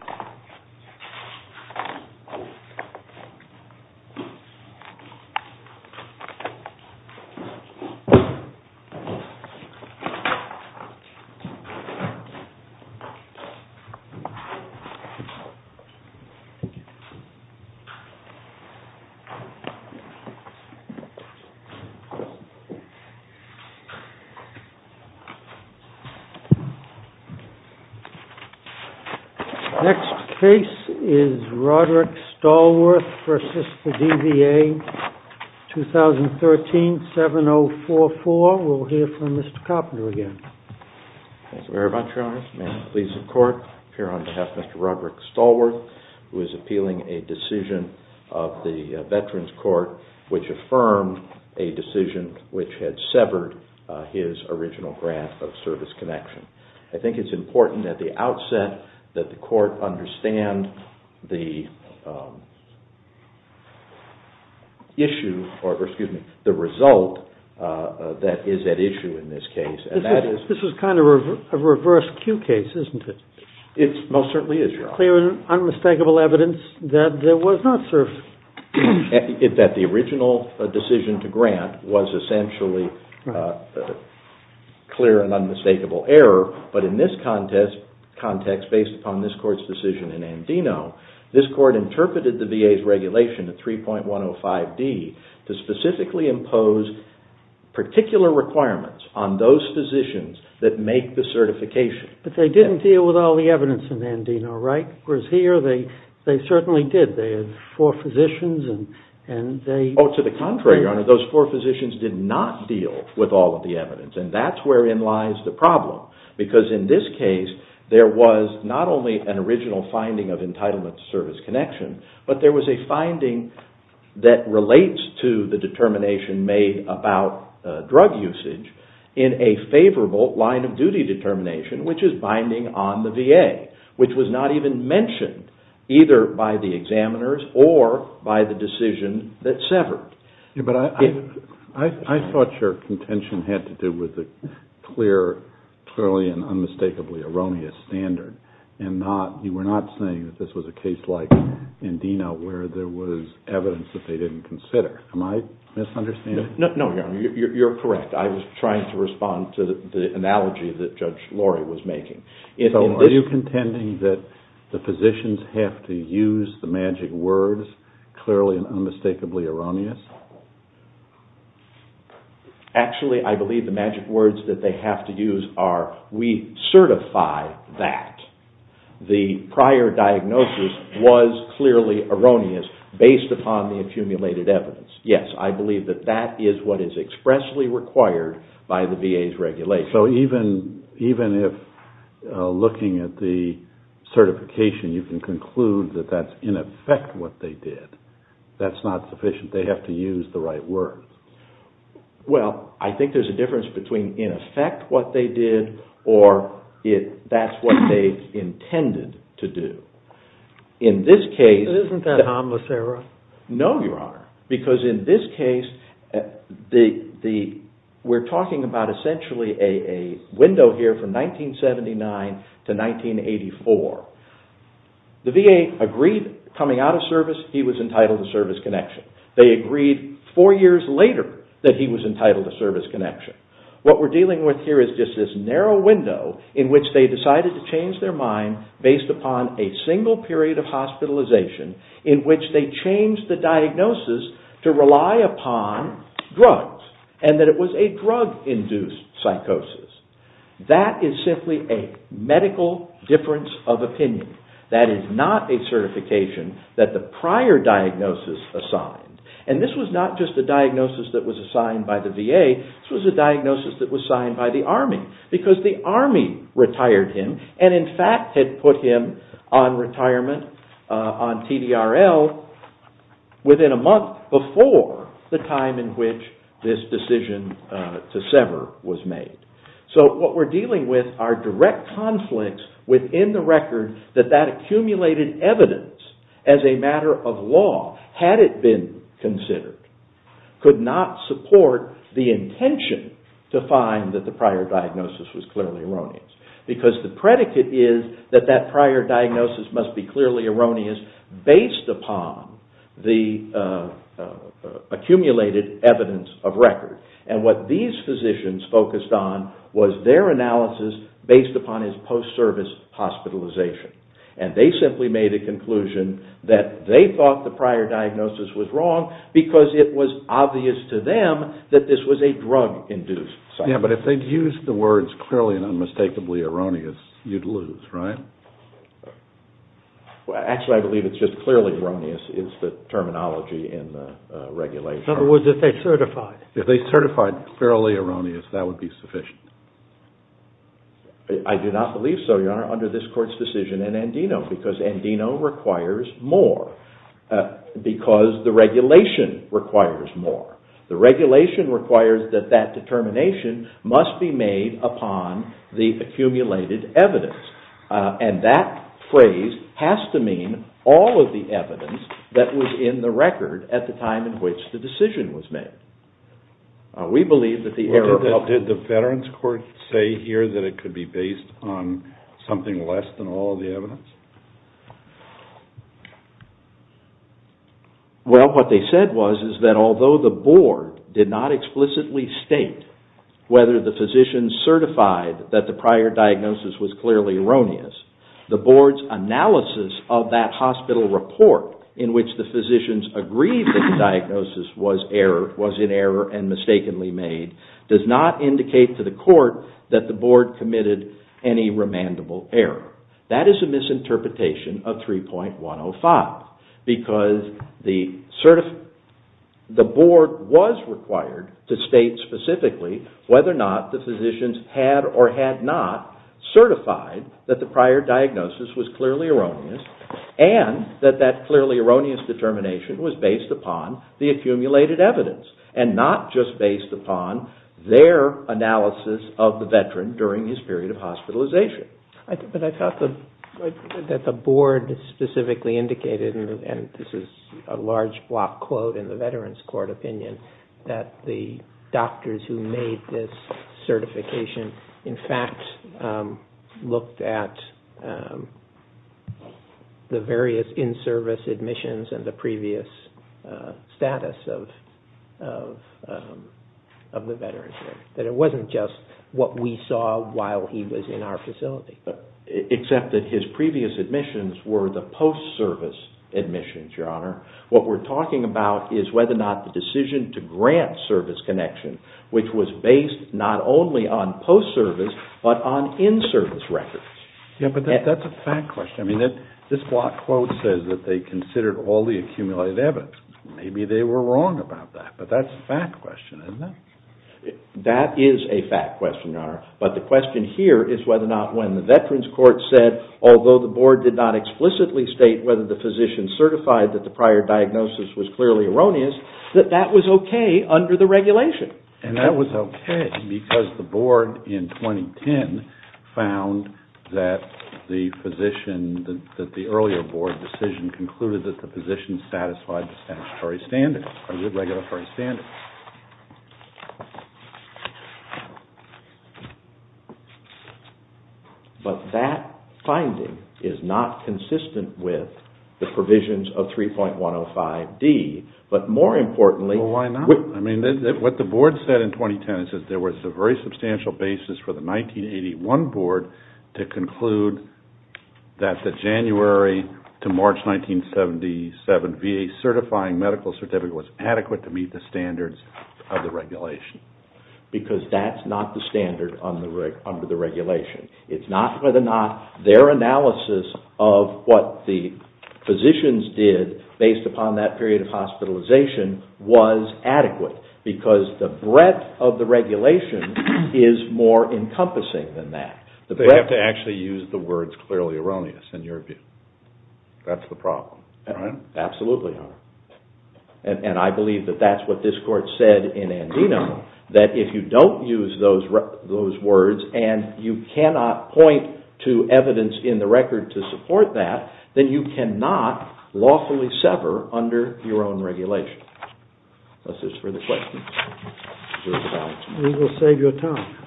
SHINSEKI V. SHINSEKI Next case is Roderick Stallworth v. DVA 2013-7044. We'll hear from Mr. Carpenter again. Thank you very much, Your Honor. Ma'am, please, the court. Here on behalf of Mr. Roderick Stallworth, who is appealing a decision of the Veterans Court which affirmed a decision which had severed his original grant of service connection. I think it's important at the outset that the court understand the issue, or excuse me, the result that is at issue in this case. This is kind of a reverse cue case, isn't it? It most certainly is, Your Honor. Clear and unmistakable evidence that there was not service. That the original decision to grant was essentially clear and unmistakable error, but in this context, based upon this court's decision in Andino, this court interpreted the VA's regulation at 3.105D to specifically impose particular requirements on those physicians that make the certification. But they didn't deal with all the evidence in Andino, right? Whereas here, they certainly did. They had four physicians and they… Oh, to the contrary, Your Honor. Those four physicians did not deal with all of the evidence, and that's wherein lies the problem, because in this case, there was not only an original finding of entitlement to service connection, but there was a finding that relates to the determination made about drug usage in a favorable line of duty determination, which is binding on the VA, which was not even mentioned, either by the examiners or by the decision that severed. But I thought your contention had to do with the clear, clearly and unmistakably erroneous standard, and you were not saying that this was a case like Andino where there was evidence that they didn't consider. Am I misunderstanding? No, Your Honor. You're correct. I was trying to respond to the analogy that Judge Laurie was making. So are you contending that the physicians have to use the magic words, clearly and unmistakably erroneous? Actually, I believe the magic words that they have to use are, we certify that the prior diagnosis was clearly erroneous based upon the accumulated evidence. Yes, I believe that that is what is expressly required by the VA's regulation. So even if, looking at the certification, you can conclude that that's in effect what they did, that's not sufficient. They have to use the right words. Well, I think there's a difference between in effect what they did or that's what they intended to do. In this case... Isn't that a harmless error? No, Your Honor, because in this case, we're talking about essentially a window here from 1979 to 1984. The VA agreed coming out of service, he was entitled to service connection. They agreed four years later that he was entitled to service connection. What we're dealing with here is just this narrow window in which they decided to change their mind based upon a single period of hospitalization in which they changed the diagnosis to rely upon drugs and that it was a drug-induced psychosis. That is simply a medical difference of opinion. That is not a certification that the prior diagnosis assigned. And this was not just a diagnosis that was assigned by the VA, this was a diagnosis that was assigned by the Army because the Army retired him and in fact had put him on retirement on TDRL within a month before the time in which this decision to sever was made. So what we're dealing with are direct conflicts within the record that that accumulated evidence as a matter of law, had it been considered, could not support the intention to find that the prior diagnosis was clearly erroneous. Because the predicate is that that prior diagnosis must be clearly erroneous based upon the accumulated evidence of record. And what these physicians focused on was their analysis based upon his post-service hospitalization. And they simply made a conclusion that they thought the prior diagnosis was wrong because it was obvious to them that this was a drug-induced psychosis. Yeah, but if they'd used the words clearly and unmistakably erroneous, you'd lose, right? Well, actually, I believe it's just clearly erroneous is the terminology in the regulation. In other words, if they certified. If they certified fairly erroneous, that would be sufficient. I do not believe so, Your Honor, under this court's decision in Andino. Because Andino requires more. Because the regulation requires more. The regulation requires that that determination must be made upon the accumulated evidence. And that phrase has to mean all of the evidence that was in the record at the time in which the decision was made. Did the Veterans Court say here that it could be based on something less than all of the evidence? Well, what they said was that although the board did not explicitly state whether the physician certified that the prior diagnosis was clearly erroneous, the board's analysis of that hospital report in which the physicians agreed that the diagnosis was in error and mistakenly made does not indicate to the court that the board committed any remandable error. That is a misinterpretation of 3.105. Because the board was required to state specifically whether or not the physicians had or had not certified that the prior diagnosis was clearly erroneous and that that clearly erroneous determination was based upon the accumulated evidence and not just based upon their analysis of the veteran during his period of hospitalization. But I thought that the board specifically indicated, and this is a large block quote in the Veterans Court opinion, that the doctors who made this certification in fact looked at the various in-service admissions and the previous status of the veterans. That it wasn't just what we saw while he was in our facility. Except that his previous admissions were the post-service admissions, Your Honor. What we're talking about is whether or not the decision to grant service connection, which was based not only on post-service but on in-service records. Yeah, but that's a fact question. I mean, this block quote says that they considered all the accumulated evidence. Maybe they were wrong about that, but that's a fact question, isn't it? That is a fact question, Your Honor. But the question here is whether or not when the Veterans Court said, although the board did not explicitly state whether the physician certified that the prior diagnosis was clearly erroneous, that that was okay under the regulation. Right, and that was okay because the board in 2010 found that the physician, that the earlier board decision concluded that the physician satisfied the statutory standard, the regulatory standard. But that finding is not consistent with the provisions of 3.105D, but more importantly... Well, why not? I mean, what the board said in 2010 is that there was a very substantial basis for the 1981 board to conclude that the January to March 1977 VA certifying medical certificate was adequate to meet the standard. Because that's not the standard under the regulation. It's not whether or not their analysis of what the physicians did based upon that period of hospitalization was adequate, because the breadth of the regulation is more encompassing than that. They have to actually use the words clearly erroneous, in your view. That's the problem, right? Absolutely, Your Honor. And I believe that that's what this court said in Andino, that if you don't use those words and you cannot point to evidence in the record to support that, then you cannot lawfully sever under your own regulation. That's it for the questions. We will save your time.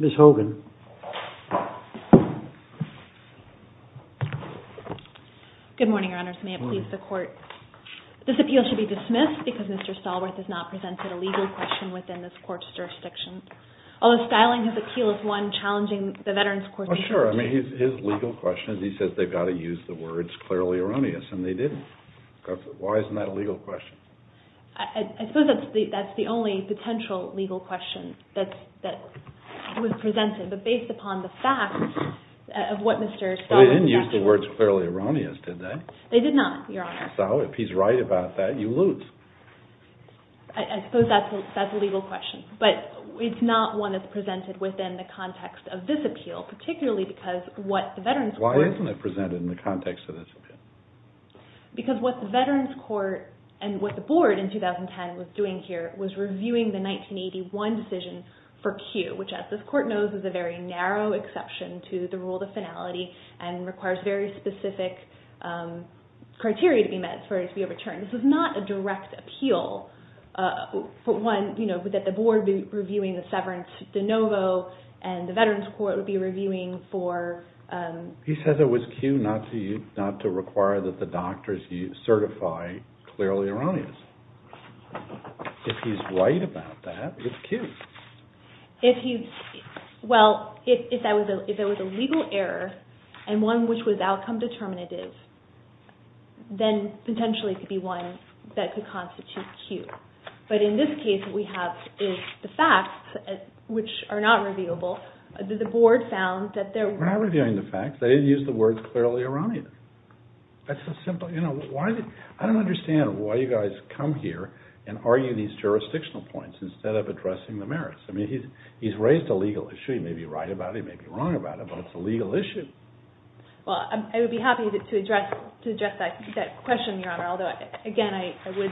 Ms. Hogan. Good morning, Your Honors. May it please the court. This appeal should be dismissed because Mr. Stallworth has not presented a legal question within this court's jurisdiction. Although styling his appeal as one challenging the veterans' court... Well, sure. I mean, his legal question is he says they've got to use the words clearly erroneous, and they didn't. Why isn't that a legal question? I suppose that's the only potential legal question that was presented, but based upon the facts of what Mr. Stallworth... They didn't use the words clearly erroneous, did they? They did not, Your Honor. So, if he's right about that, you lose. I suppose that's a legal question, but it's not one that's presented within the context of this appeal, particularly because what the veterans' court... Why isn't it presented in the context of this appeal? Because what the veterans' court and what the board in 2010 was doing here was reviewing the 1981 decision for Q, which as this court knows is a very narrow exception to the rule of finality and requires very specific criteria to be met for it to be overturned. This is not a direct appeal that the board would be reviewing the severance de novo, and the veterans' court would be reviewing for... He says it was Q not to require that the doctors certify clearly erroneous. If he's right about that, it's Q. Well, if there was a legal error and one which was outcome determinative, then potentially it could be one that could constitute Q. But in this case, what we have is the facts, which are not reviewable. The board found that there were... They're not reviewing the facts. They didn't use the words clearly erroneous. I don't understand why you guys come here and argue these jurisdictional points instead of addressing the merits. I mean, he's raised a legal issue. He may be right about it. He may be wrong about it, but it's a legal issue. Well, I would be happy to address that question, Your Honor, although, again, I would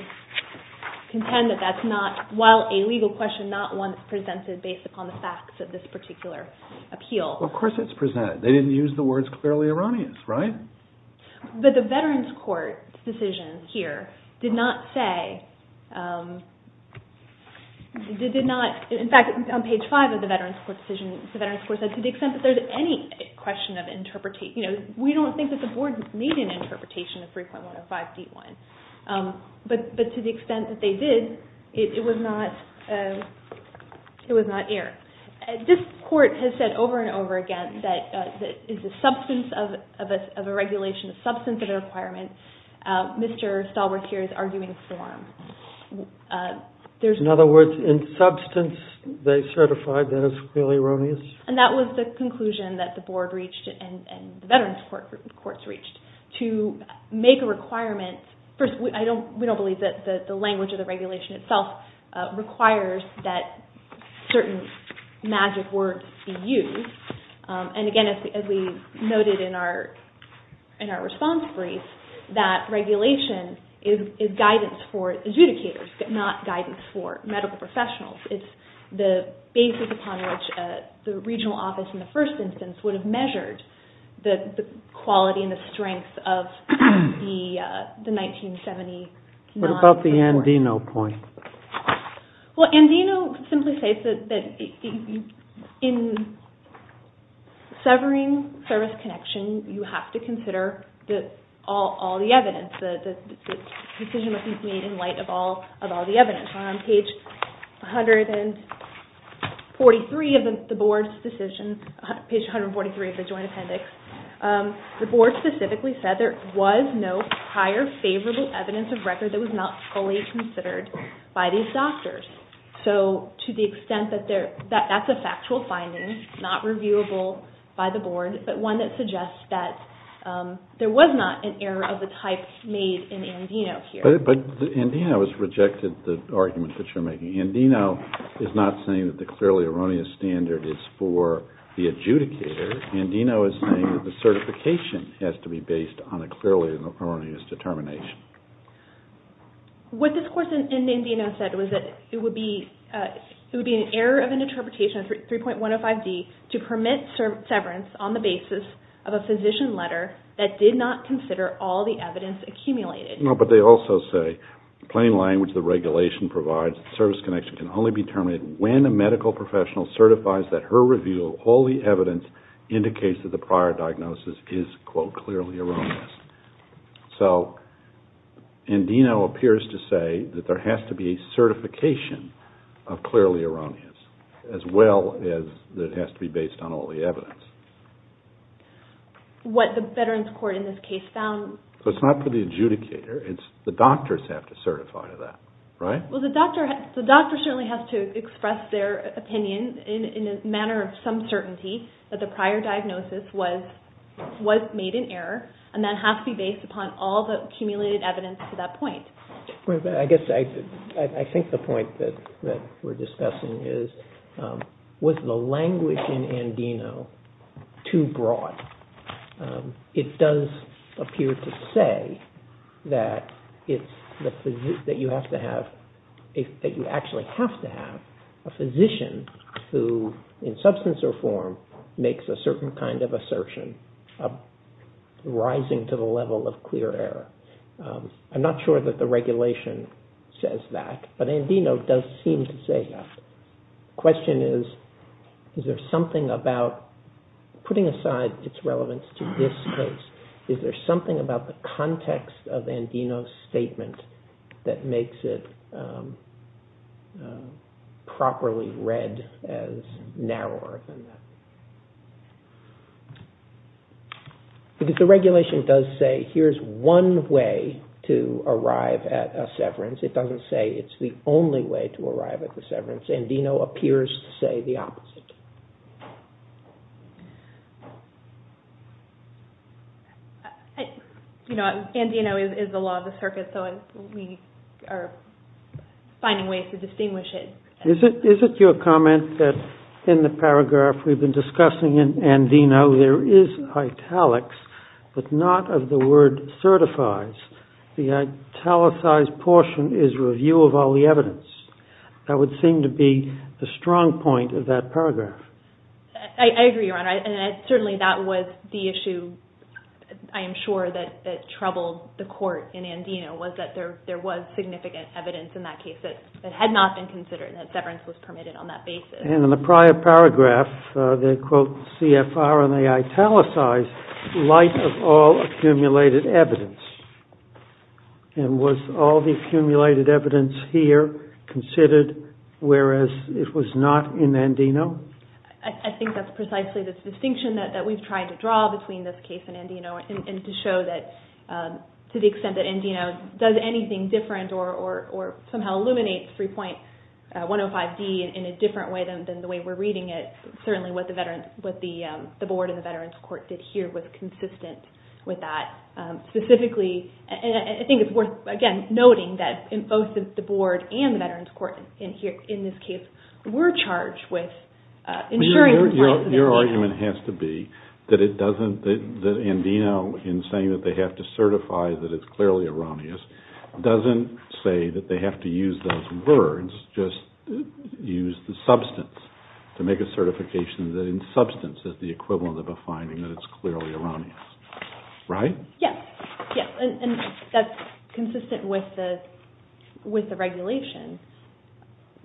contend that that's not, while a legal question, not one that's presented based upon the facts of this particular appeal. Well, of course it's presented. They didn't use the words clearly erroneous, right? But the veterans' court decision here did not say, did not, in fact, on page five of the veterans' court decision, the veterans' court said to the extent that there's any question of interpretation, you know, we don't think that the board made an interpretation of 3.105D1. But to the extent that they did, it was not, it was not air. This court has said over and over again that it's a substance of a regulation, a substance of a requirement. Mr. Stallworth here is arguing for them. In other words, in substance, they certified that it's clearly erroneous? And that was the conclusion that the board reached and the veterans' courts reached, to make a requirement. First, we don't believe that the language of the regulation itself requires that certain magic words be used. And again, as we noted in our response brief, that regulation is guidance for adjudicators, not guidance for medical professionals. It's the basis upon which the regional office, in the first instance, would have measured the quality and the strength of the 1970 non-report. What about the Andino point? Well, Andino simply states that in severing service connection, you have to consider all the evidence. The decision must be made in light of all the evidence. On page 143 of the board's decision, page 143 of the joint appendix, the board specifically said there was no prior favorable evidence of record that was not fully considered by these doctors. So, to the extent that that's a factual finding, not reviewable by the board, but one that suggests that there was not an error of the type made in Andino here. But Andino has rejected the argument that you're making. Andino is not saying that the clearly erroneous standard is for the adjudicator. Andino is saying that the certification has to be based on a clearly erroneous determination. What this course in Andino said was that it would be an error of an interpretation of 3.105D to permit severance on the basis of a physician letter that did not consider all the evidence accumulated. No, but they also say, in plain language, the regulation provides that service connection can only be terminated when a medical professional certifies that her review of all the evidence indicates that the prior diagnosis is, quote, clearly erroneous. So, Andino appears to say that there has to be a certification of clearly erroneous, as well as that it has to be based on all the evidence. What the Veterans Court in this case found... So it's not for the adjudicator, it's the doctors have to certify to that, right? Well, the doctor certainly has to express their opinion in a manner of some certainty that the prior diagnosis was made in error, and that has to be based upon all the accumulated evidence to that point. I think the point that we're discussing is, was the language in Andino too broad? It does appear to say that you actually have to have a physician who, in substance or form, makes a certain kind of assertion of rising to the level of clear error. I'm not sure that the regulation says that, but Andino does seem to say that. The question is, is there something about, putting aside its relevance to this case, is there something about the context of Andino's statement that makes it properly read as narrower? Because the regulation does say, here's one way to arrive at a severance. It doesn't say it's the only way to arrive at the severance. It appears to say the opposite. You know, Andino is the law of the circuit, so we are finding ways to distinguish it. Is it your comment that in the paragraph we've been discussing in Andino, there is italics, but not of the word certifies? The italicized portion is review of all the evidence. That would seem to be the strong point of that paragraph. I agree, Your Honor. And certainly that was the issue, I am sure, that troubled the court in Andino, was that there was significant evidence in that case that had not been considered and that severance was permitted on that basis. And in the prior paragraph, they quote CFR and they italicize light of all accumulated evidence. And was all the accumulated evidence here considered whereas it was not in Andino? I think that's precisely the distinction that we've tried to draw between this case and Andino and to show that to the extent that Andino does anything different or somehow illuminates 3.105D in a different way than the way we're reading it, certainly what the board and the Veterans Court did here was consistent with that. Specifically, and I think it's worth, again, noting that both the board and the Veterans Court in this case were charged with ensuring compliance. Your argument has to be that Andino, in saying that they have to certify that it's clearly erroneous, doesn't say that they have to use those words, just use the substance to make a certification that in substance is the equivalent of a finding that it's clearly erroneous. Right? Yes. Yes. And that's consistent with the regulation.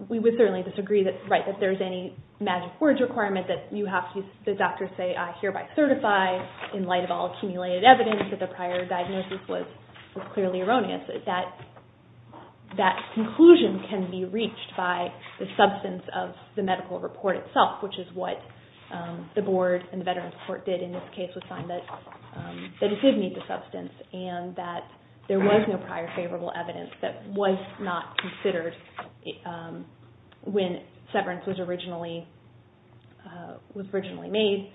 We would certainly disagree that, right, that there's any magic words requirement that you have to, the doctors say I hereby certify in light of all accumulated evidence that the prior diagnosis was clearly erroneous. That conclusion can be reached by the substance of the medical report itself, which is what the board and the Veterans Court did in this case was find that it did need the substance and that there was no prior favorable evidence that was not considered when severance was originally made.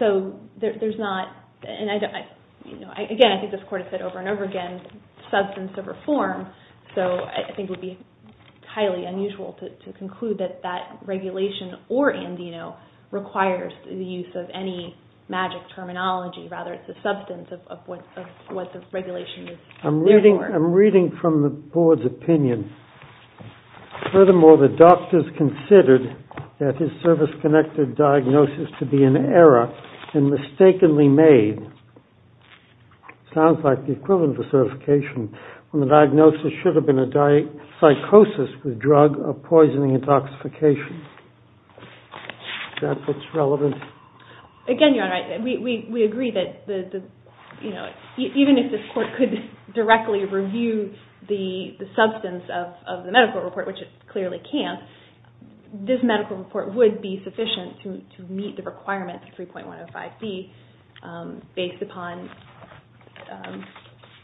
So there's not, and again, I think this court has said over and over again, substance of reform, so I think it would be highly unusual to conclude that that regulation or Andino requires the use of any magic terminology. Rather, it's the substance of what the regulation is there for. I'm reading from the board's opinion. Furthermore, the doctors considered that his service-connected diagnosis to be an error and mistakenly made, sounds like the equivalent of certification, when the diagnosis should have been a psychosis with drug-poisoning intoxication. Is that what's relevant? Again, Your Honor, we agree that even if this court could directly review the substance of the medical report, which it clearly can, this medical report would be sufficient to meet the requirements of 3.105B based upon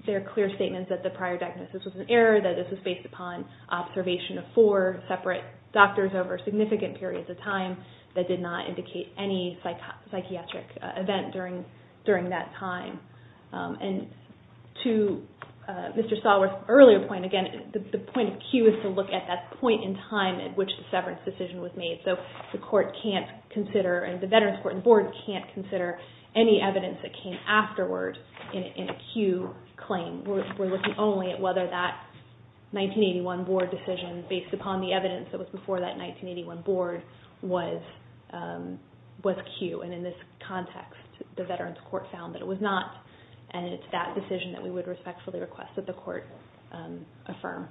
their clear statements that the prior diagnosis was an error, that this was based upon observation of four separate doctors over significant periods of time that did not indicate any psychiatric event during that time. And to Mr. Stallworth's earlier point, again, the point of cue is to look at that point in time at which the severance decision was made. So the court can't consider, and the Veterans Court and the board can't consider any evidence that came afterward in a cue claim. We're looking only at whether that 1981 board decision based upon the evidence that was before that 1981 board was cue. And in this context, the Veterans Court found that it was not, and it's that decision that we would respectfully request that the court affirm.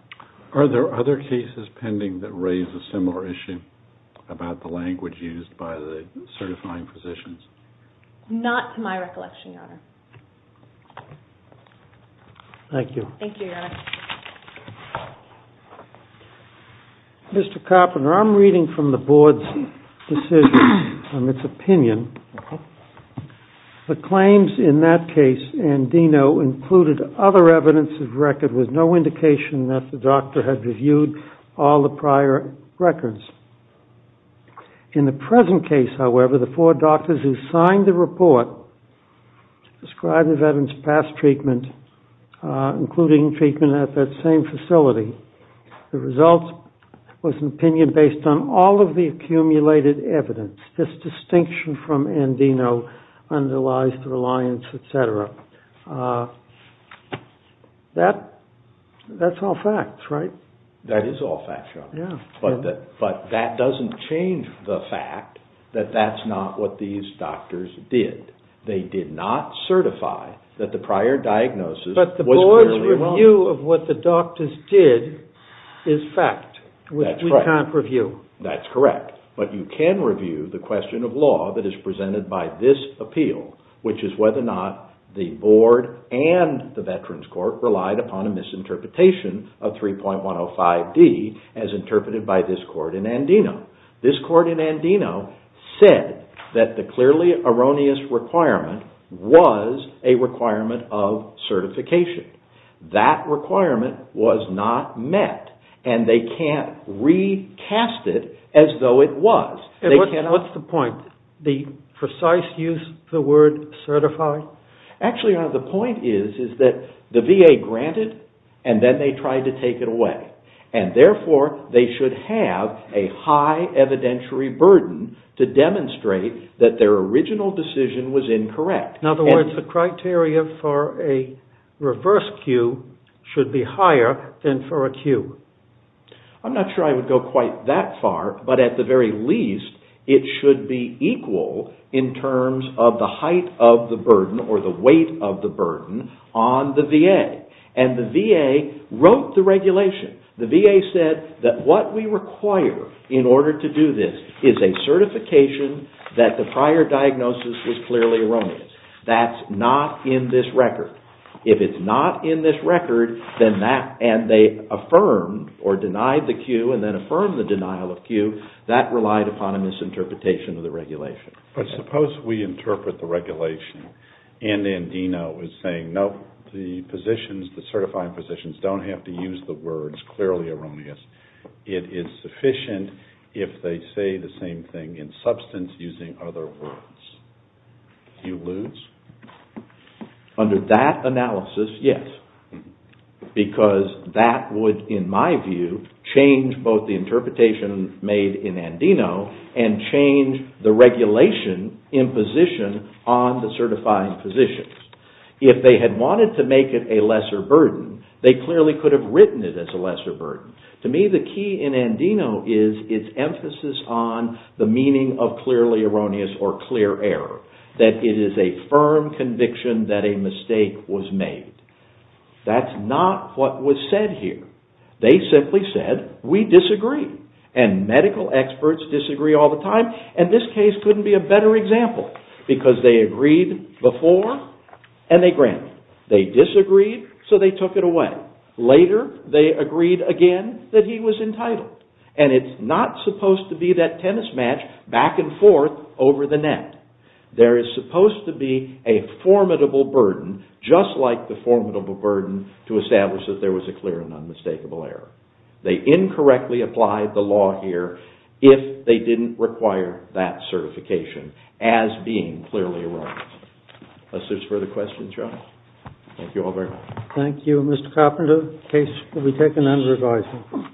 Are there other cases pending that raise a similar issue? About the language used by the certifying physicians? Not to my recollection, Your Honor. Thank you, Your Honor. Mr. Carpenter, I'm reading from the board's decision, from its opinion. The claims in that case and Deno included other evidence of record with no indication that the doctor had reviewed all the prior records. In the present case, however, the four doctors who signed the report described the veterans' past treatment, including treatment at that same facility. The result was an opinion based on all of the accumulated evidence. This distinction from and Deno underlies the reliance, et cetera. That's all facts, right? That is all facts, Your Honor. But that doesn't change the fact that that's not what these doctors did. They did not certify that the prior diagnosis was clearly wrong. But the board's review of what the doctors did is fact. We can't review. That's correct. But you can review the question of law that is presented by this appeal, which is whether or not the board and the Veterans Court relied upon a misinterpretation of 3.105D as interpreted by this court in and Deno. This court in and Deno said that the clearly erroneous requirement was a requirement of certification. That requirement was not met. And they can't recast it as though it was. What's the point? The precise use of the word certified? Actually, Your Honor, the point is that the VA granted and then they tried to take it away. And therefore, they should have a high evidentiary burden to demonstrate that their original decision was incorrect. In other words, the criteria for a reverse cue should be higher than for a cue. I'm not sure I would go quite that far. But at the very least, it should be equal in terms of the height of the burden or the weight of the burden on the VA. And the VA wrote the regulation. The VA said that what we require in order to do this is a certification that the prior diagnosis was clearly erroneous. That's not in this record. If it's not in this record and they affirmed or denied the cue and then affirmed the denial of cue, that relied upon a misinterpretation of the regulation. But suppose we interpret the regulation and Andino is saying, no, the positions, the certified positions don't have to use the words clearly erroneous. It is sufficient if they say the same thing in substance using other words. Do you lose? Under that analysis, yes. Because that would, in my view, change both the interpretation made in Andino and change the regulation in position on the certified positions. If they had wanted to make it a lesser burden, they clearly could have written it as a lesser burden. To me, the key in Andino is its emphasis on the meaning of clearly erroneous or clear error. That it is a firm conviction that a mistake was made. That's not what was said here. They simply said, we disagree. And medical experts disagree all the time. And this case couldn't be a better example. Because they agreed before and they granted. They disagreed, so they took it away. Later, they agreed again that he was entitled. And it's not supposed to be that tennis match back and forth over the net. There is supposed to be a formidable burden, just like the formidable burden to establish that there was a clear and unmistakable error. They incorrectly applied the law here if they didn't require that certification as being clearly erroneous. Unless there's further questions, Joe? Thank you all very much. Thank you, Mr. Carpenter. The case will be taken under revising.